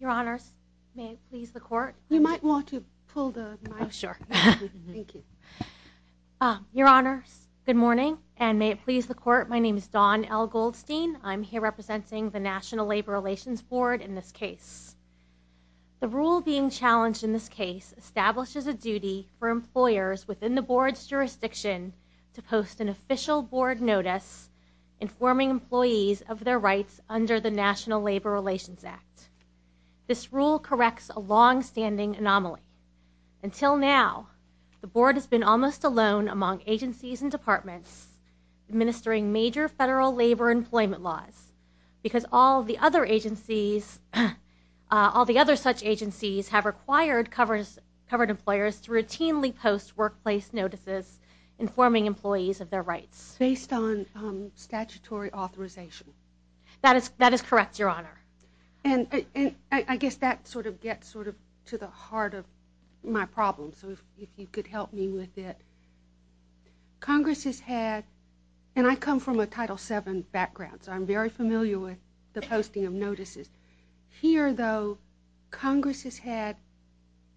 Your Honors, may it please the Court. You might want to pull the mic. Your Honors, good morning and may it please the Court. My name is Dawn L. Goldstein. I'm here representing the National Labor Relations Board in this case. The rule being challenged in this case establishes a duty for employers within the board's jurisdiction to post an official board notice informing employees of their rights under the National Labor Relations Act. This rule corrects a long-standing anomaly. Until now, the board has been almost alone among agencies and departments administering major federal labor employment laws because all the other such agencies have required covered employers to routinely post workplace notices informing employees of their rights. Based on statutory authorization. That is correct, Your Honor. I guess that sort of gets to the heart of my problem, so if you could help me with it. Congress has had, and I come from a Title VII background, so I'm very familiar with the posting of notices. Here, though, Congress has had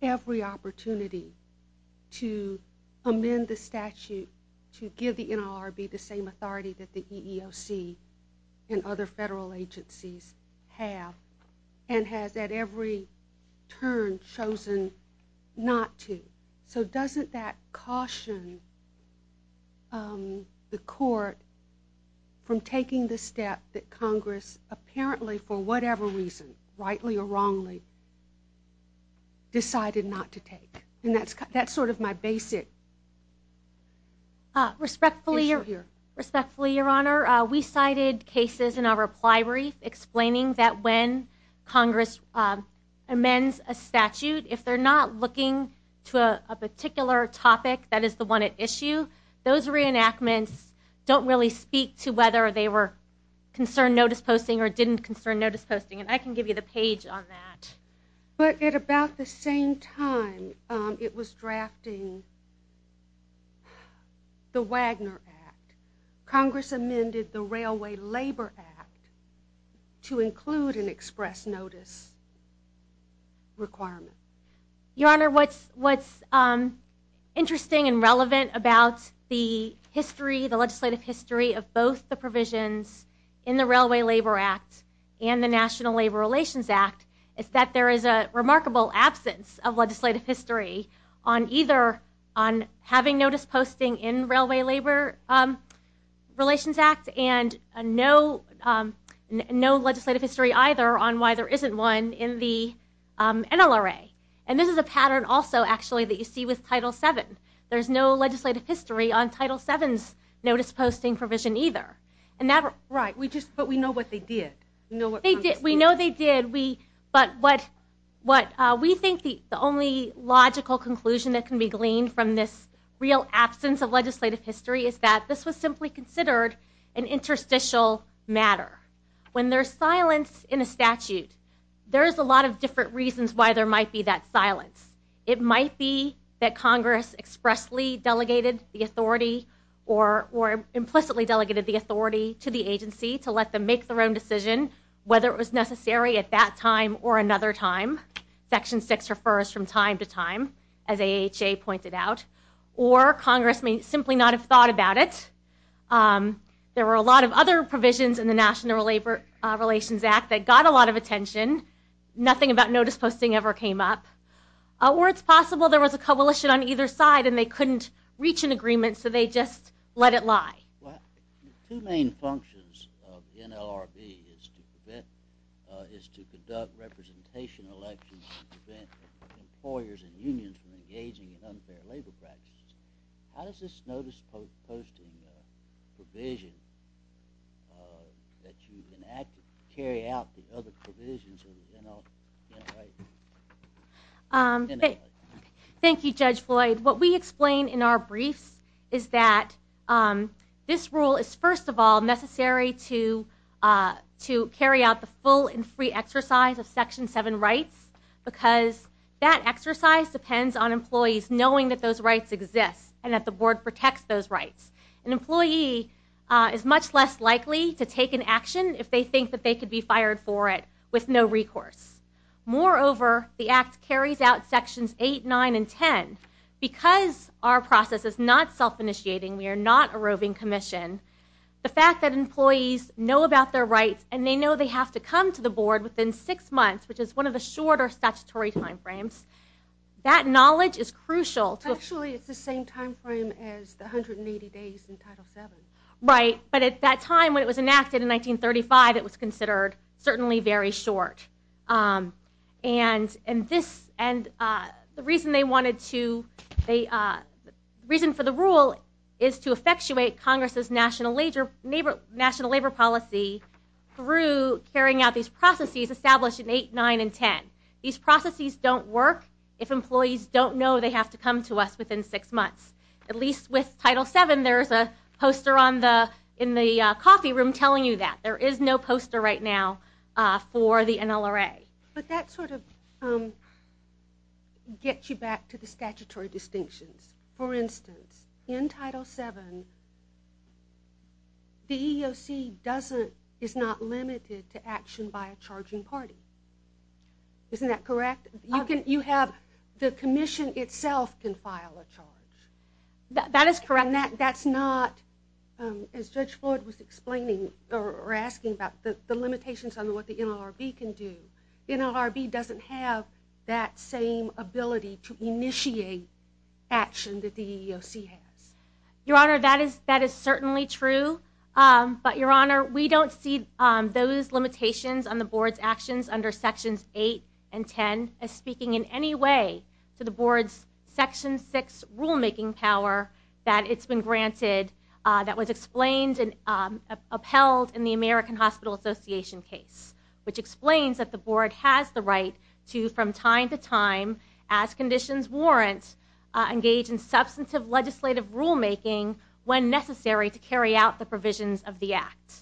every opportunity to amend the statute to give the NLRB the same authority that the EEOC and other federal agencies have, and has at every turn chosen not to. So doesn't that caution the Court from taking the step that Congress apparently, for whatever reason, rightly or wrongly, decided not to take? And that's sort of my basic issue here. Respectfully, Your Honor, we cited cases in our reply brief explaining that when Congress amends a statute, if they're not looking to a particular topic that is the one at issue, those reenactments don't really speak to whether they were concerned notice posting or didn't concern notice posting, and I can give you the page on that. But at about the same time, it was drafting the Wagner Act. Congress amended the Railway Labor Act to include an express notice requirement. Your Honor, what's interesting and relevant about the history, the legislative history, of both the provisions in the Railway Labor Act and the National Labor Relations Act is that there is a remarkable absence of legislative history on either having notice posting in Railway Labor Relations Act and no legislative history either on why there isn't one in the NLRA. And this is a pattern also, actually, that you see with Title VII. There's no legislative history on Title VII's notice posting provision either. Right, but we know what they did. We know they did, but what we think the only logical conclusion that can be gleaned from this real absence of legislative history is that this was simply considered an interstitial matter. When there's silence in a statute, there's a lot of different reasons why there might be that silence. It might be that Congress expressly delegated the authority or implicitly delegated the authority to the provision, whether it was necessary at that time or another time. Section VI refers from time to time, as AHA pointed out. Or Congress may simply not have thought about it. There were a lot of other provisions in the National Labor Relations Act that got a lot of attention. Nothing about notice posting ever came up. Or it's possible there was a coalition on either side and they couldn't reach an agreement, so they just let it lie. Two main functions of NLRB is to conduct representation elections to prevent employers and unions from engaging in unfair labor practices. How does this notice posting provision that you enacted carry out the other provisions of the NLRB? Thank you, Judge Floyd. What we explain in our briefs is that this rule is, first of all, necessary to carry out the full and free exercise of Section VII rights because that exercise depends on employees knowing that those rights exist and that the board protects those rights. An employee is much less likely to take an action if they think that they could be fired for it with no recourse. Moreover, the Act carries out Sections VIII, IX, and X because our process is not self-initiating, we are not a roving commission. The fact that employees know about their rights and they know they have to come to the board within six months, which is one of the shorter statutory time frames, that knowledge is crucial. Actually, it's the same time frame as the 180 days in Title VII. Right, but at that time when it was enacted in 1935, it was considered certainly very short. The reason for the rule is to effectuate Congress' national labor policy through carrying out these processes established in VIII, IX, and X. These processes don't work if employees don't know they have to come to us within six months. At least with Title VII, there is a poster in the coffee room telling you that. There is no poster right now for the NLRA. But that sort of gets you back to the statutory distinctions. For instance, in Title VII, the EEOC is not limited to action by a charging party. Isn't that correct? You have the commission itself can file a charge. That is correct. That's not, as Judge Floyd was explaining or asking about, the limitations on what the NLRB can do. The NLRB doesn't have that same ability to initiate action that the EEOC has. Your Honor, that is certainly true. But, Your Honor, we don't see those limitations on the Board's actions under Sections VIII and X as speaking in any way to the Board's Section VI rulemaking power that it's been granted that was explained and upheld in the American Hospital Association case, which explains that the Board has the right to, from time to time, as conditions warrant, engage in substantive legislative rulemaking when necessary to carry out the provisions of the Act.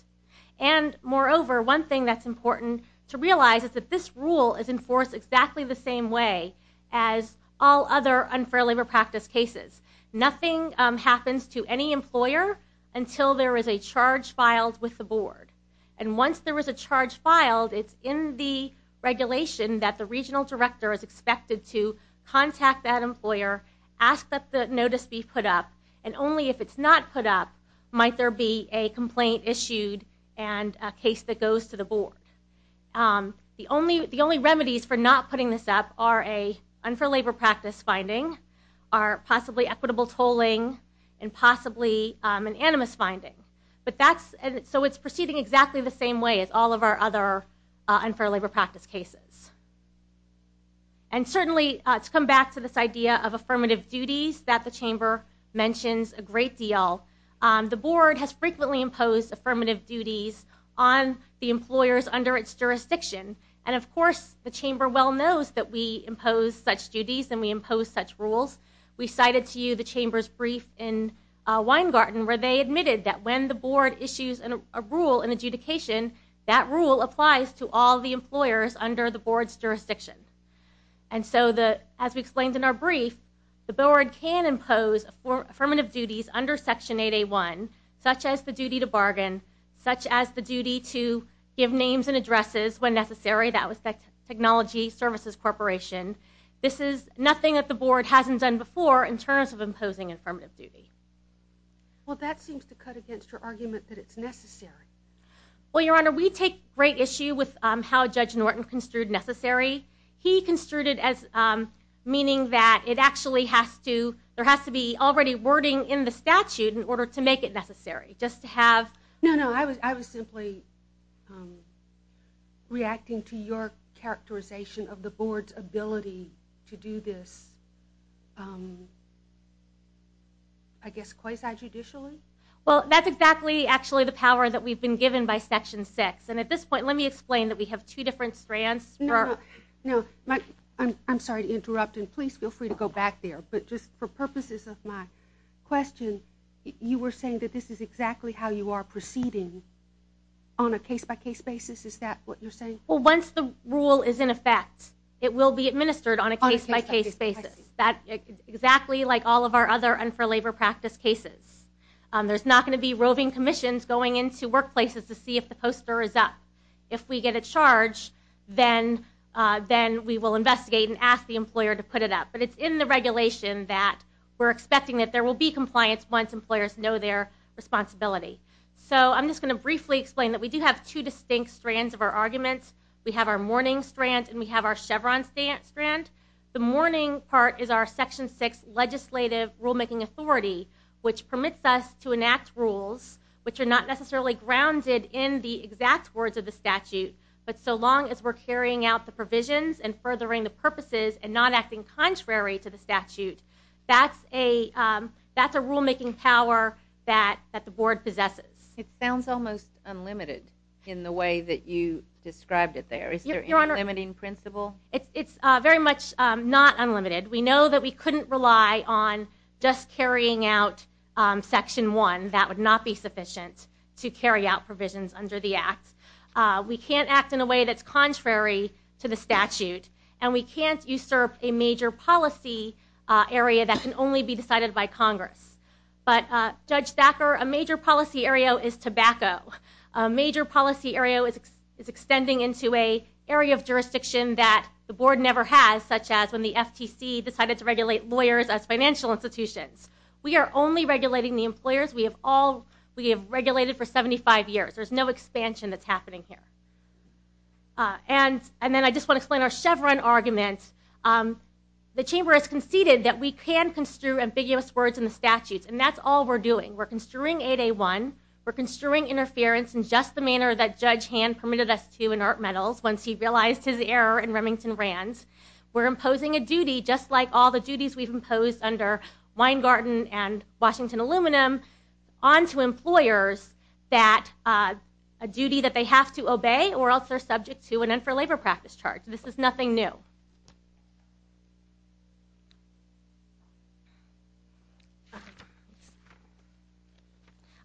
And, moreover, one thing that's important to realize is that this rule is enforced exactly the same way as all other unfair labor practice cases. Nothing happens to any employer until there is a charge filed with the Board. And once there is a charge filed, it's in the regulation that the regional director is expected to contact that employer, ask that the notice be put up, and only if it's not put up might there be a complaint issued and a case that goes to the Board. The only remedies for not putting this up are an unfair labor practice finding, possibly equitable tolling, and possibly an animus finding. So it's proceeding exactly the same way as all of our other unfair labor practice cases. And certainly, to come back to this idea of affirmative duties that the Chamber mentions a great deal, the Board has frequently imposed affirmative duties on the employers under its jurisdiction. And, of course, the Chamber well knows that we impose such rules. We cited to you the Chamber's brief in Weingarten where they admitted that when the Board issues a rule in adjudication, that rule applies to all the employers under the Board's jurisdiction. And so, as we explained in our brief, the Board can impose affirmative duties under Section 8A1 such as the duty to bargain, such as the duty to give names and addresses when necessary. That was Technology Services Corporation. This is nothing that the Board hasn't done before in terms of imposing affirmative duty. Well, that seems to cut against your argument that it's necessary. Well, Your Honor, we take great issue with how Judge Norton construed necessary. He construed it as meaning that it actually has to, there has to be already wording in the statute in order to make it necessary. Just to have... No, no, I was simply reacting to your characterization of the Board's ability to do this I guess quasi-judicially. Well, that's exactly, actually, the power that we've been given by Section 6. And, at this point, let me explain that we have two different strands. No, no. I'm sorry to interrupt, and please feel free to go back there. But, just for purposes of my question, you were saying that this is exactly how you are proceeding on a case-by-case basis. Is that what you're saying? Well, once the rule is in effect, it will be administered on a case-by-case basis. Exactly like all of our other un-for-labor practice cases. There's not going to be roving commissions going into workplaces to see if the poster is up. If we get a charge, then we will investigate and ask the employer to put it up. But it's in the regulation that we're expecting that there will be compliance once employers know their responsibility. So, I'm just going to briefly explain that we do have two distinct strands of our arguments. We have our mourning strand and we have our Chevron strand. The mourning part is our Section 6 legislative rulemaking authority, which permits us to enact rules, which are not necessarily grounded in the exact words of the statute, but so long as we're carrying out the provisions and furthering the purposes and not acting contrary to the statute, that's a rulemaking power that the Board possesses. It sounds almost unlimited in the way that you described it there. Is there any limiting principle? It's very much not unlimited. We know that we couldn't rely on just carrying out Section 1. That would not be sufficient to carry out provisions under the Act. We can't act in a way that's contrary to the statute and we can't usurp a major policy area that can only be decided by Congress. But Judge Thacker, a major policy area is tobacco. A major policy area is extending into an area of jurisdiction that the Board never has, such as when the FTC decided to regulate lawyers as financial institutions. We are only regulating the employers. We have regulated for 75 years. There's no expansion that's happening here. And then I just want to explain our Chevron argument. The Chamber has conceded that we can construe ambiguous words in the statutes. And that's all we're doing. We're construing 8A1. We're construing interference in just the manner that Judge Hand permitted us to in Art Medals once he realized his error in Remington Rand. We're imposing a duty just like all the duties we've imposed under Weingarten and Washington Aluminum onto employers that a duty that they have to obey or else they're subject to an end for labor practice charge. This is nothing new. Thank you.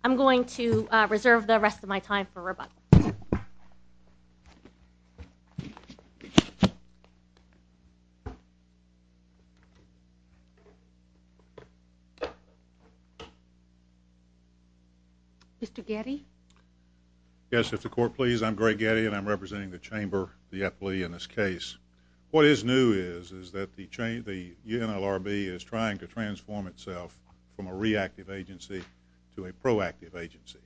I'm going to reserve the rest of my time for rebuttals. Mr. Getty? Yes, if the Court please. I'm Greg Getty and I'm representing the Chamber, the FLE in this case. What is new is that the NLRB is trying to transform itself from a reactive agency to a proactive agency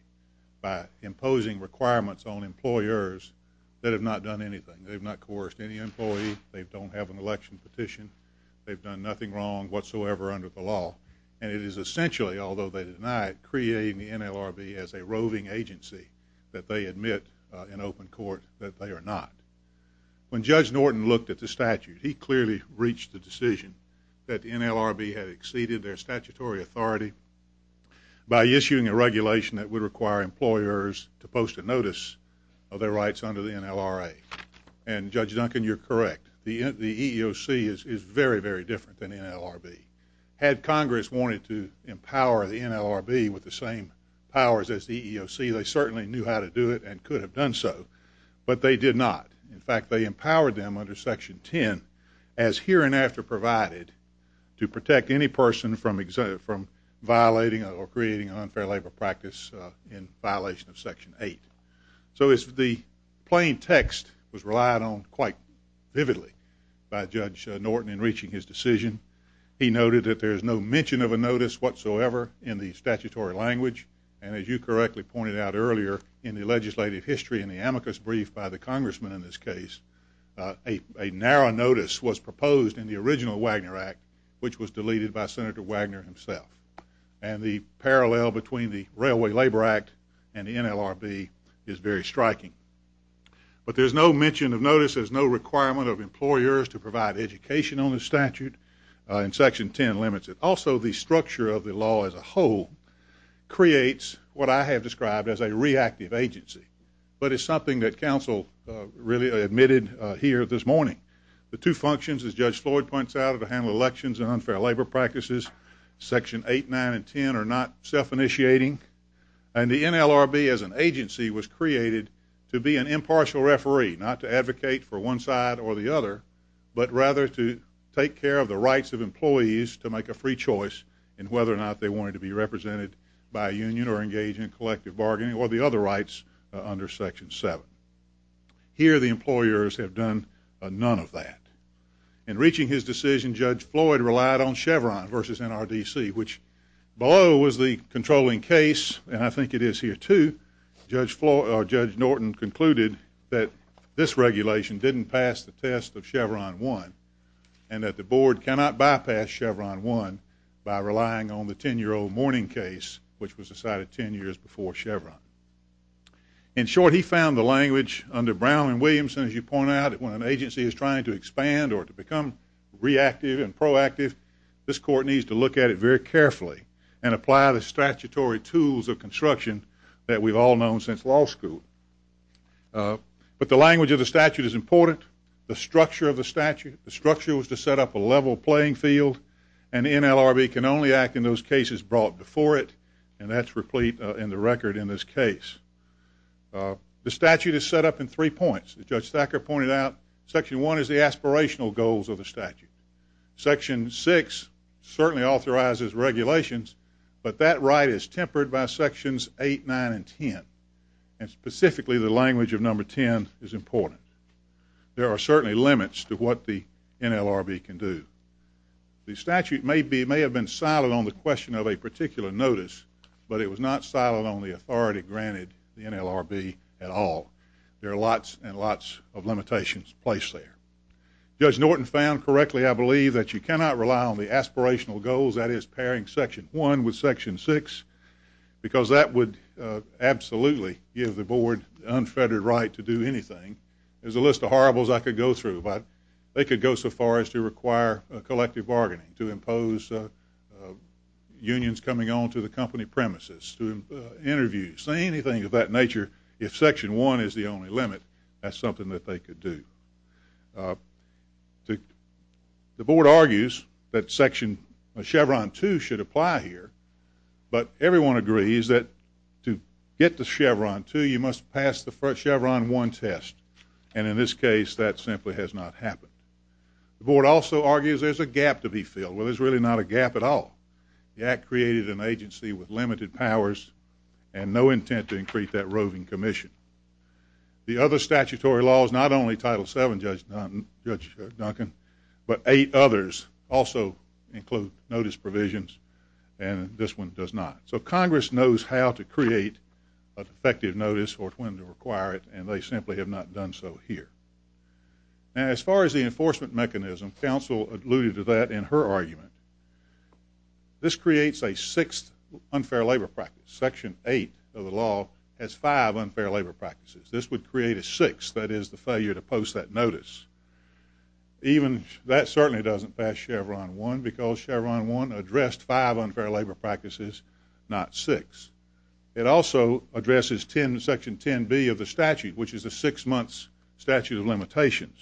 by imposing requirements on employers that have not done anything. They've not coerced any employee. They don't have an election petition. They've done nothing wrong whatsoever under the law. And it is essentially, although they deny it, creating the NLRB as a roving agency that they admit in open court that they are not. When Judge Norton looked at the statute, he clearly reached the decision that the NLRB had exceeded their statutory authority by issuing a regulation that would require employers to post a notice of their rights under the NLRA. And Judge Duncan, you're correct. The EEOC is very, very different than the NLRB. Had Congress wanted to empower the NLRB with the same powers as the EEOC, they certainly knew how to do it and could have done so. But they did not. In fact, they empowered them under Section 10 as here and after provided to protect any person from violating or creating an unfair labor practice in violation of Section 8. So the plain text was relied on quite vividly by Judge Norton in reaching his decision. He noted that there is no mention of a notice whatsoever in the statutory language and as you correctly pointed out earlier in the legislative history in the amicus brief by the Congressman in this case, a narrow notice was proposed in the original Wagner Act, which was deleted by Senator Wagner himself. And the parallel between the Railway Labor Act and the NLRB is very striking. But there's no mention of notices, no requirement of employers to provide education on the statute in Section 10 limits it. Also, the structure of the law as a whole creates what I have described as a reactive agency. But it's something that counsel really admitted here this morning. The two functions, as Judge Floyd points out, are to handle elections and unfair labor practices. Section 8, 9, and 10 are not self-initiating. And the NLRB as an agency was created to be an impartial referee, not to advocate for one side or the other, but rather to take care of the rights of employees to make a free choice in whether or not they wanted to be represented by a union or engage in collective bargaining or the other rights under Section 7. Here the employers have done none of that. In reaching his decision, Judge Floyd relied on Chevron versus NRDC, which below was the controlling case, and I think it is here too, Judge Norton concluded that this regulation didn't pass the test of Chevron 1 and that the Board cannot bypass Chevron 1 by relying on the 10-year-old mourning case, which was decided 10 years before Chevron. In short, he found the language under Brown and Williamson, as you point out, when an agency is trying to expand or to become reactive and proactive, this Court needs to look at it very carefully and apply the statutory tools of construction that we've all known since law school. But the language of the statute is important. The structure of the statute, the structure was to set up a level playing field, and NLRB can only act in those cases brought before it, and that's replete in the record in this case. The statute is set up in three points. As Judge Thacker pointed out, Section 1 is the aspirational goals of the statute. Section 6 certainly authorizes regulations, but that right is tempered by Sections 8, 9, and 10, and specifically the language of Number 10 is important. There are certainly limits to what the NLRB can do. The statute may have been silent on the question of a particular notice, but it was not silent on the authority granted the NLRB at all. There are lots and lots of limitations placed there. Judge Norton found correctly, I believe, that you cannot rely on the aspirational goals, that is, pairing Section 1 with Section 6, because that would absolutely give the Board the unfettered right to do anything. There's a list of horribles I could go through, but they could go so far as to require a collective bargaining, to impose unions coming on to the company premises, to interview, say anything of that nature, if Section 1 is the only limit, that's something that they could do. The Board argues that Section Chevron 2 should apply here, but everyone agrees that to get to Chevron 2, you must pass the Chevron 1 test, and in this case, that simply has not happened. The Board also argues there's a gap to be filled. Well, there's really not a gap at all. The Act created an agency with limited powers and no intent to increase that roving commission. The other statutory laws, not only Title 7, Judge Duncan, but eight others also include notice provisions, and this one does not. So effective notice or when to require it, and they simply have not done so here. Now, as far as the enforcement mechanism, Council alluded to that in her argument. This creates a sixth unfair labor practice. Section 8 of the law has five unfair labor practices. This would create a sixth, that is, the failure to post that notice. Even, that certainly doesn't pass Chevron 1, because Chevron 1 addressed five unfair labor practices, not six. It also addresses Section 10b of the statute, which is a six-month statute of limitations.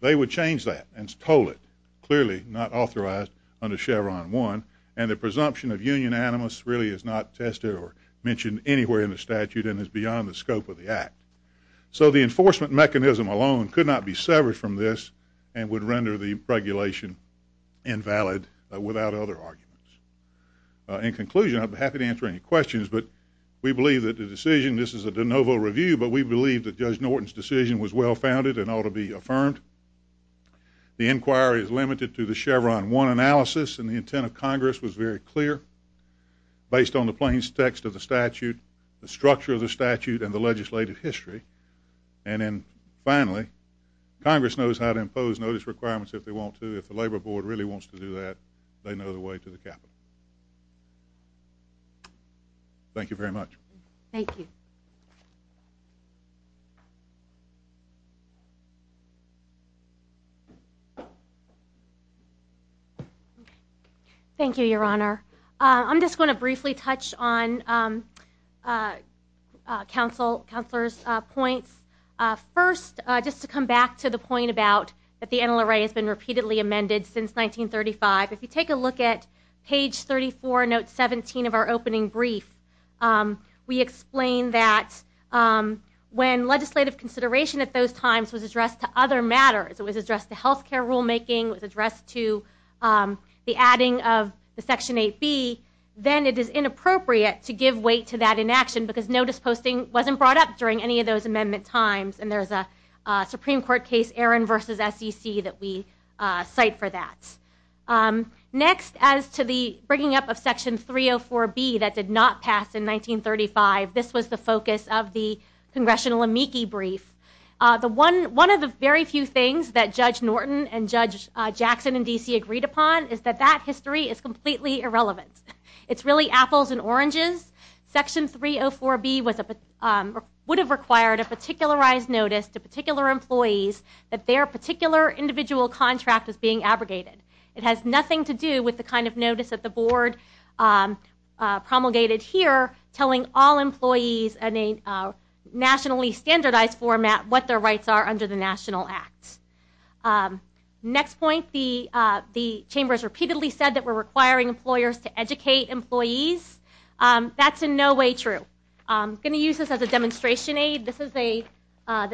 They would change that and toll it, clearly not authorized under Chevron 1, and the presumption of union animus really is not tested or mentioned anywhere in the statute and is beyond the scope of the Act. So the enforcement mechanism alone could not be severed from this and would render the regulation invalid without other arguments. In conclusion, I'd be happy to answer any questions, but we believe that the decision, this is a de novo review, but we believe that Judge Norton's decision was well-founded and ought to be affirmed. The inquiry is limited to the Chevron 1 analysis, and the intent of Congress was very clear based on the plain text of the statute, the structure of the statute, and the legislative history. And then, finally, Congress knows how to impose notice requirements if they want to. If the Labor Board really wants to do that, they know the way to the Capitol. Thank you very much. Thank you, Your Honor. I'm just going to briefly touch on Councilor's points. First, just to come back to the point about that the NLRA has been repeatedly amended since 1935. If you take a look at page 34, note 17 of our opening brief, we explain that when legislative consideration at those times was addressed to other matters, it was addressed to health care rulemaking, it was addressed to the adding of the Section 8B, then it is inappropriate to give weight to that inaction because notice posting wasn't brought up during any of those amendment times. And there's a Supreme Court case, Aaron v. SEC, that we cite for that. Next, as to the bringing up of Section 304B that did not pass in 1935, this was the focus of the Congressional amici brief. One of the very few things that Judge Norton and Judge Jackson in D.C. agreed upon is that that history is completely irrelevant. It's really apples and oranges. Section 304B would have required a particularized notice to particular employees that their particular individual contract is being abrogated. It has nothing to do with the kind of notice that the Board promulgated here telling all employees in a nationally standardized format what their rights are under the National Act. Next point, the Chamber has repeatedly said that we're requiring employers to educate employees. That's in no way true. I'm going to use this as a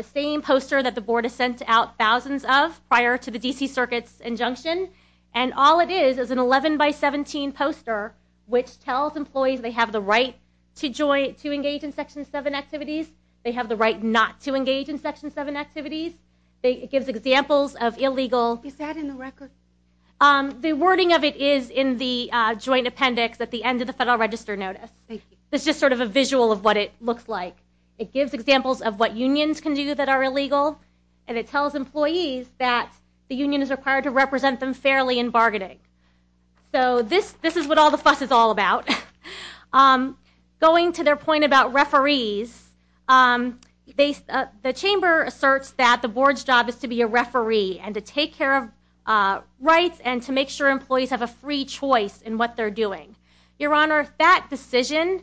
same poster that the Board has sent out thousands of prior to the D.C. Circuit's injunction. And all it is is an 11 by 17 poster which tells employees they have the right to engage in Section 7 activities. They have the right not to engage in Section 7 activities. It gives examples of illegal... Is that in the record? The wording of it is in the joint appendix at the end of the Federal Register notice. It's just sort of a visual of what it looks like. It gives examples of what unions can do that are illegal and it tells employees that the union is required to represent them fairly in bargaining. So this is what all the fuss is all about. Going to their point about referees, the Chamber asserts that the Board's job is to be a referee and to take care of rights and to make sure employees have a free choice in what they're doing. Your Honor, that decision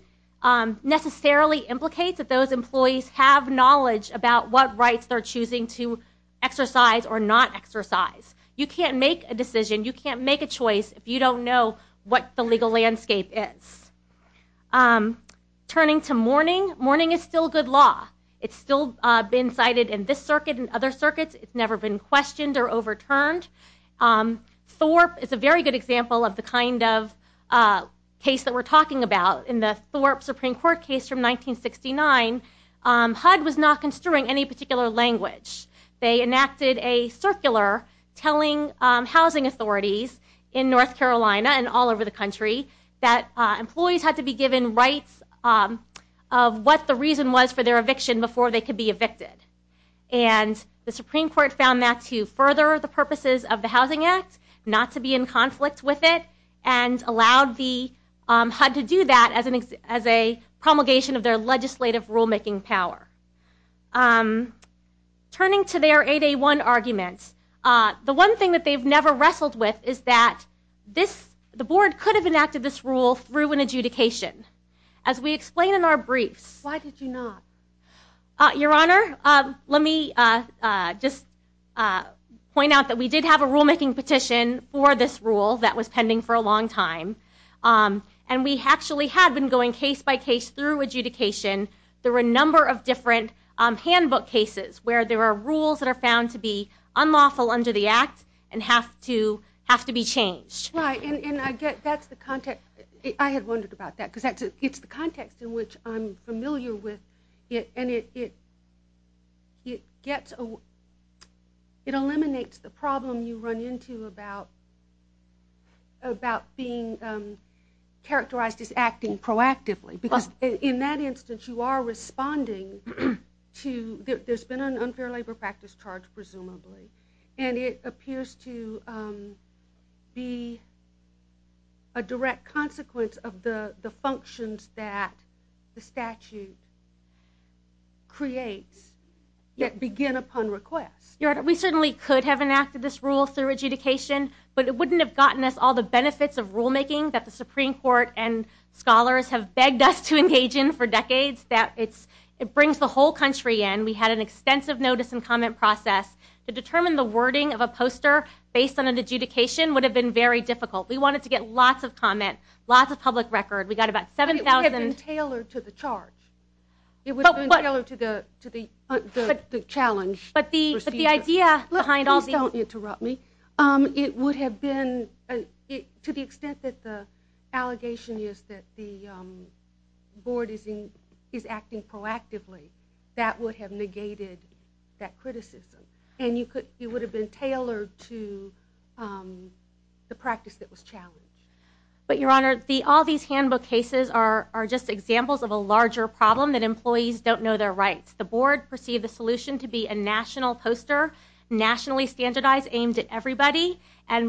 necessarily implicates that those employees have knowledge about what rights they're choosing to exercise or not exercise. You can't make a decision. You can't make a choice if you don't know what the legal landscape is. Turning to mourning. Mourning is still good law. It's still been cited in this circuit and other circuits. It's never been questioned or overturned. Thorpe is a very good example of the kind of case that we're talking about. In the Thorpe Supreme Court case from 1969, HUD was not construing any particular language. They enacted a circular telling housing authorities in North Carolina and all over the country that employees had to be given rights of what the reason was for their eviction before they could be evicted. The Supreme Court found that to further the purposes of the Housing Act, not to be in conflict with it, and allowed the HUD to do that as a promulgation of their legislative rulemaking power. Turning to their 8A1 arguments, the one thing that they've never wrestled with is that the board could have enacted this rule through an adjudication. As we explain in our briefs... Why did you not? Your Honor, let me just point out that we did have a rulemaking petition for this rule that was pending for a long time. We actually had been going case by case through adjudication. There were a number of different handbook cases where there were rules that are found to be unlawful under the Act and have to be changed. I had wondered about that. It's the context in which I'm familiar with. It eliminates the problem you run into about being characterized as acting proactively. In that instance, you are responding to... There's been an unfair labor practice charge, presumably, and it appears to be a direct consequence of the functions that the statute creates that begin upon request. Your Honor, we certainly could have enacted this rule through adjudication, but it wouldn't have gotten us all the benefits of rulemaking that the Supreme Court and scholars have begged us to engage in for decades. It brings the whole country in. We had an extensive notice and comment process. To determine the wording of a poster based on an adjudication would have been very difficult. We wanted to get lots of comment, lots of public record. We got about 7,000... It would have been tailored to the charge. It would have been tailored to the challenge procedure. Please don't interrupt me. It would have been... To the extent that the allegation is that the Board is acting proactively, that would have negated that criticism. It would have been tailored to the practice that was challenged. Your Honor, all these handbook cases are just examples of a larger problem that received a solution to be a national poster, nationally standardized, aimed at everybody.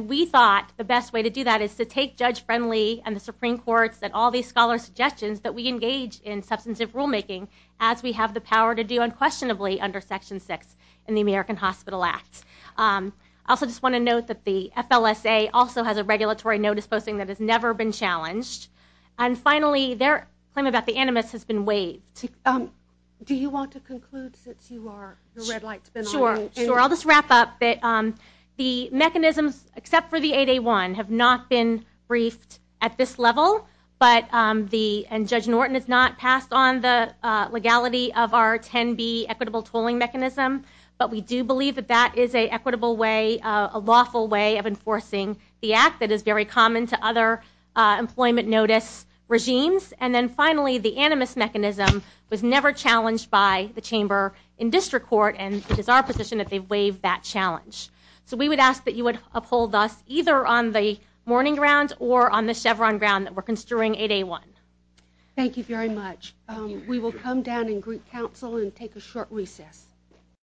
We thought the best way to do that is to take Judge Friendly and the Supreme Court's and all these scholars' suggestions that we engage in substantive rulemaking as we have the power to do unquestionably under Section 6 in the American Hospital Act. I also just want to note that the FLSA also has a regulatory notice posting that has never been challenged. Finally, their claim about the animus has been waived. Do you want to conclude since you are... Sure. I'll just wrap up. The mechanisms, except for the 8A1, have not been briefed at this level. Judge Norton has not passed on the legality of our 10B equitable tolling mechanism, but we do believe that that is an equitable way, a lawful way of enforcing the Act that is very common to other employment notice regimes. And then finally, the animus mechanism was never challenged by the Chamber in District Court, and it is our position that they've waived that challenge. So we would ask that you would uphold us either on the Morning Ground or on the Chevron ground that we're construing 8A1. Thank you very much. We will come down in group council and take a short recess.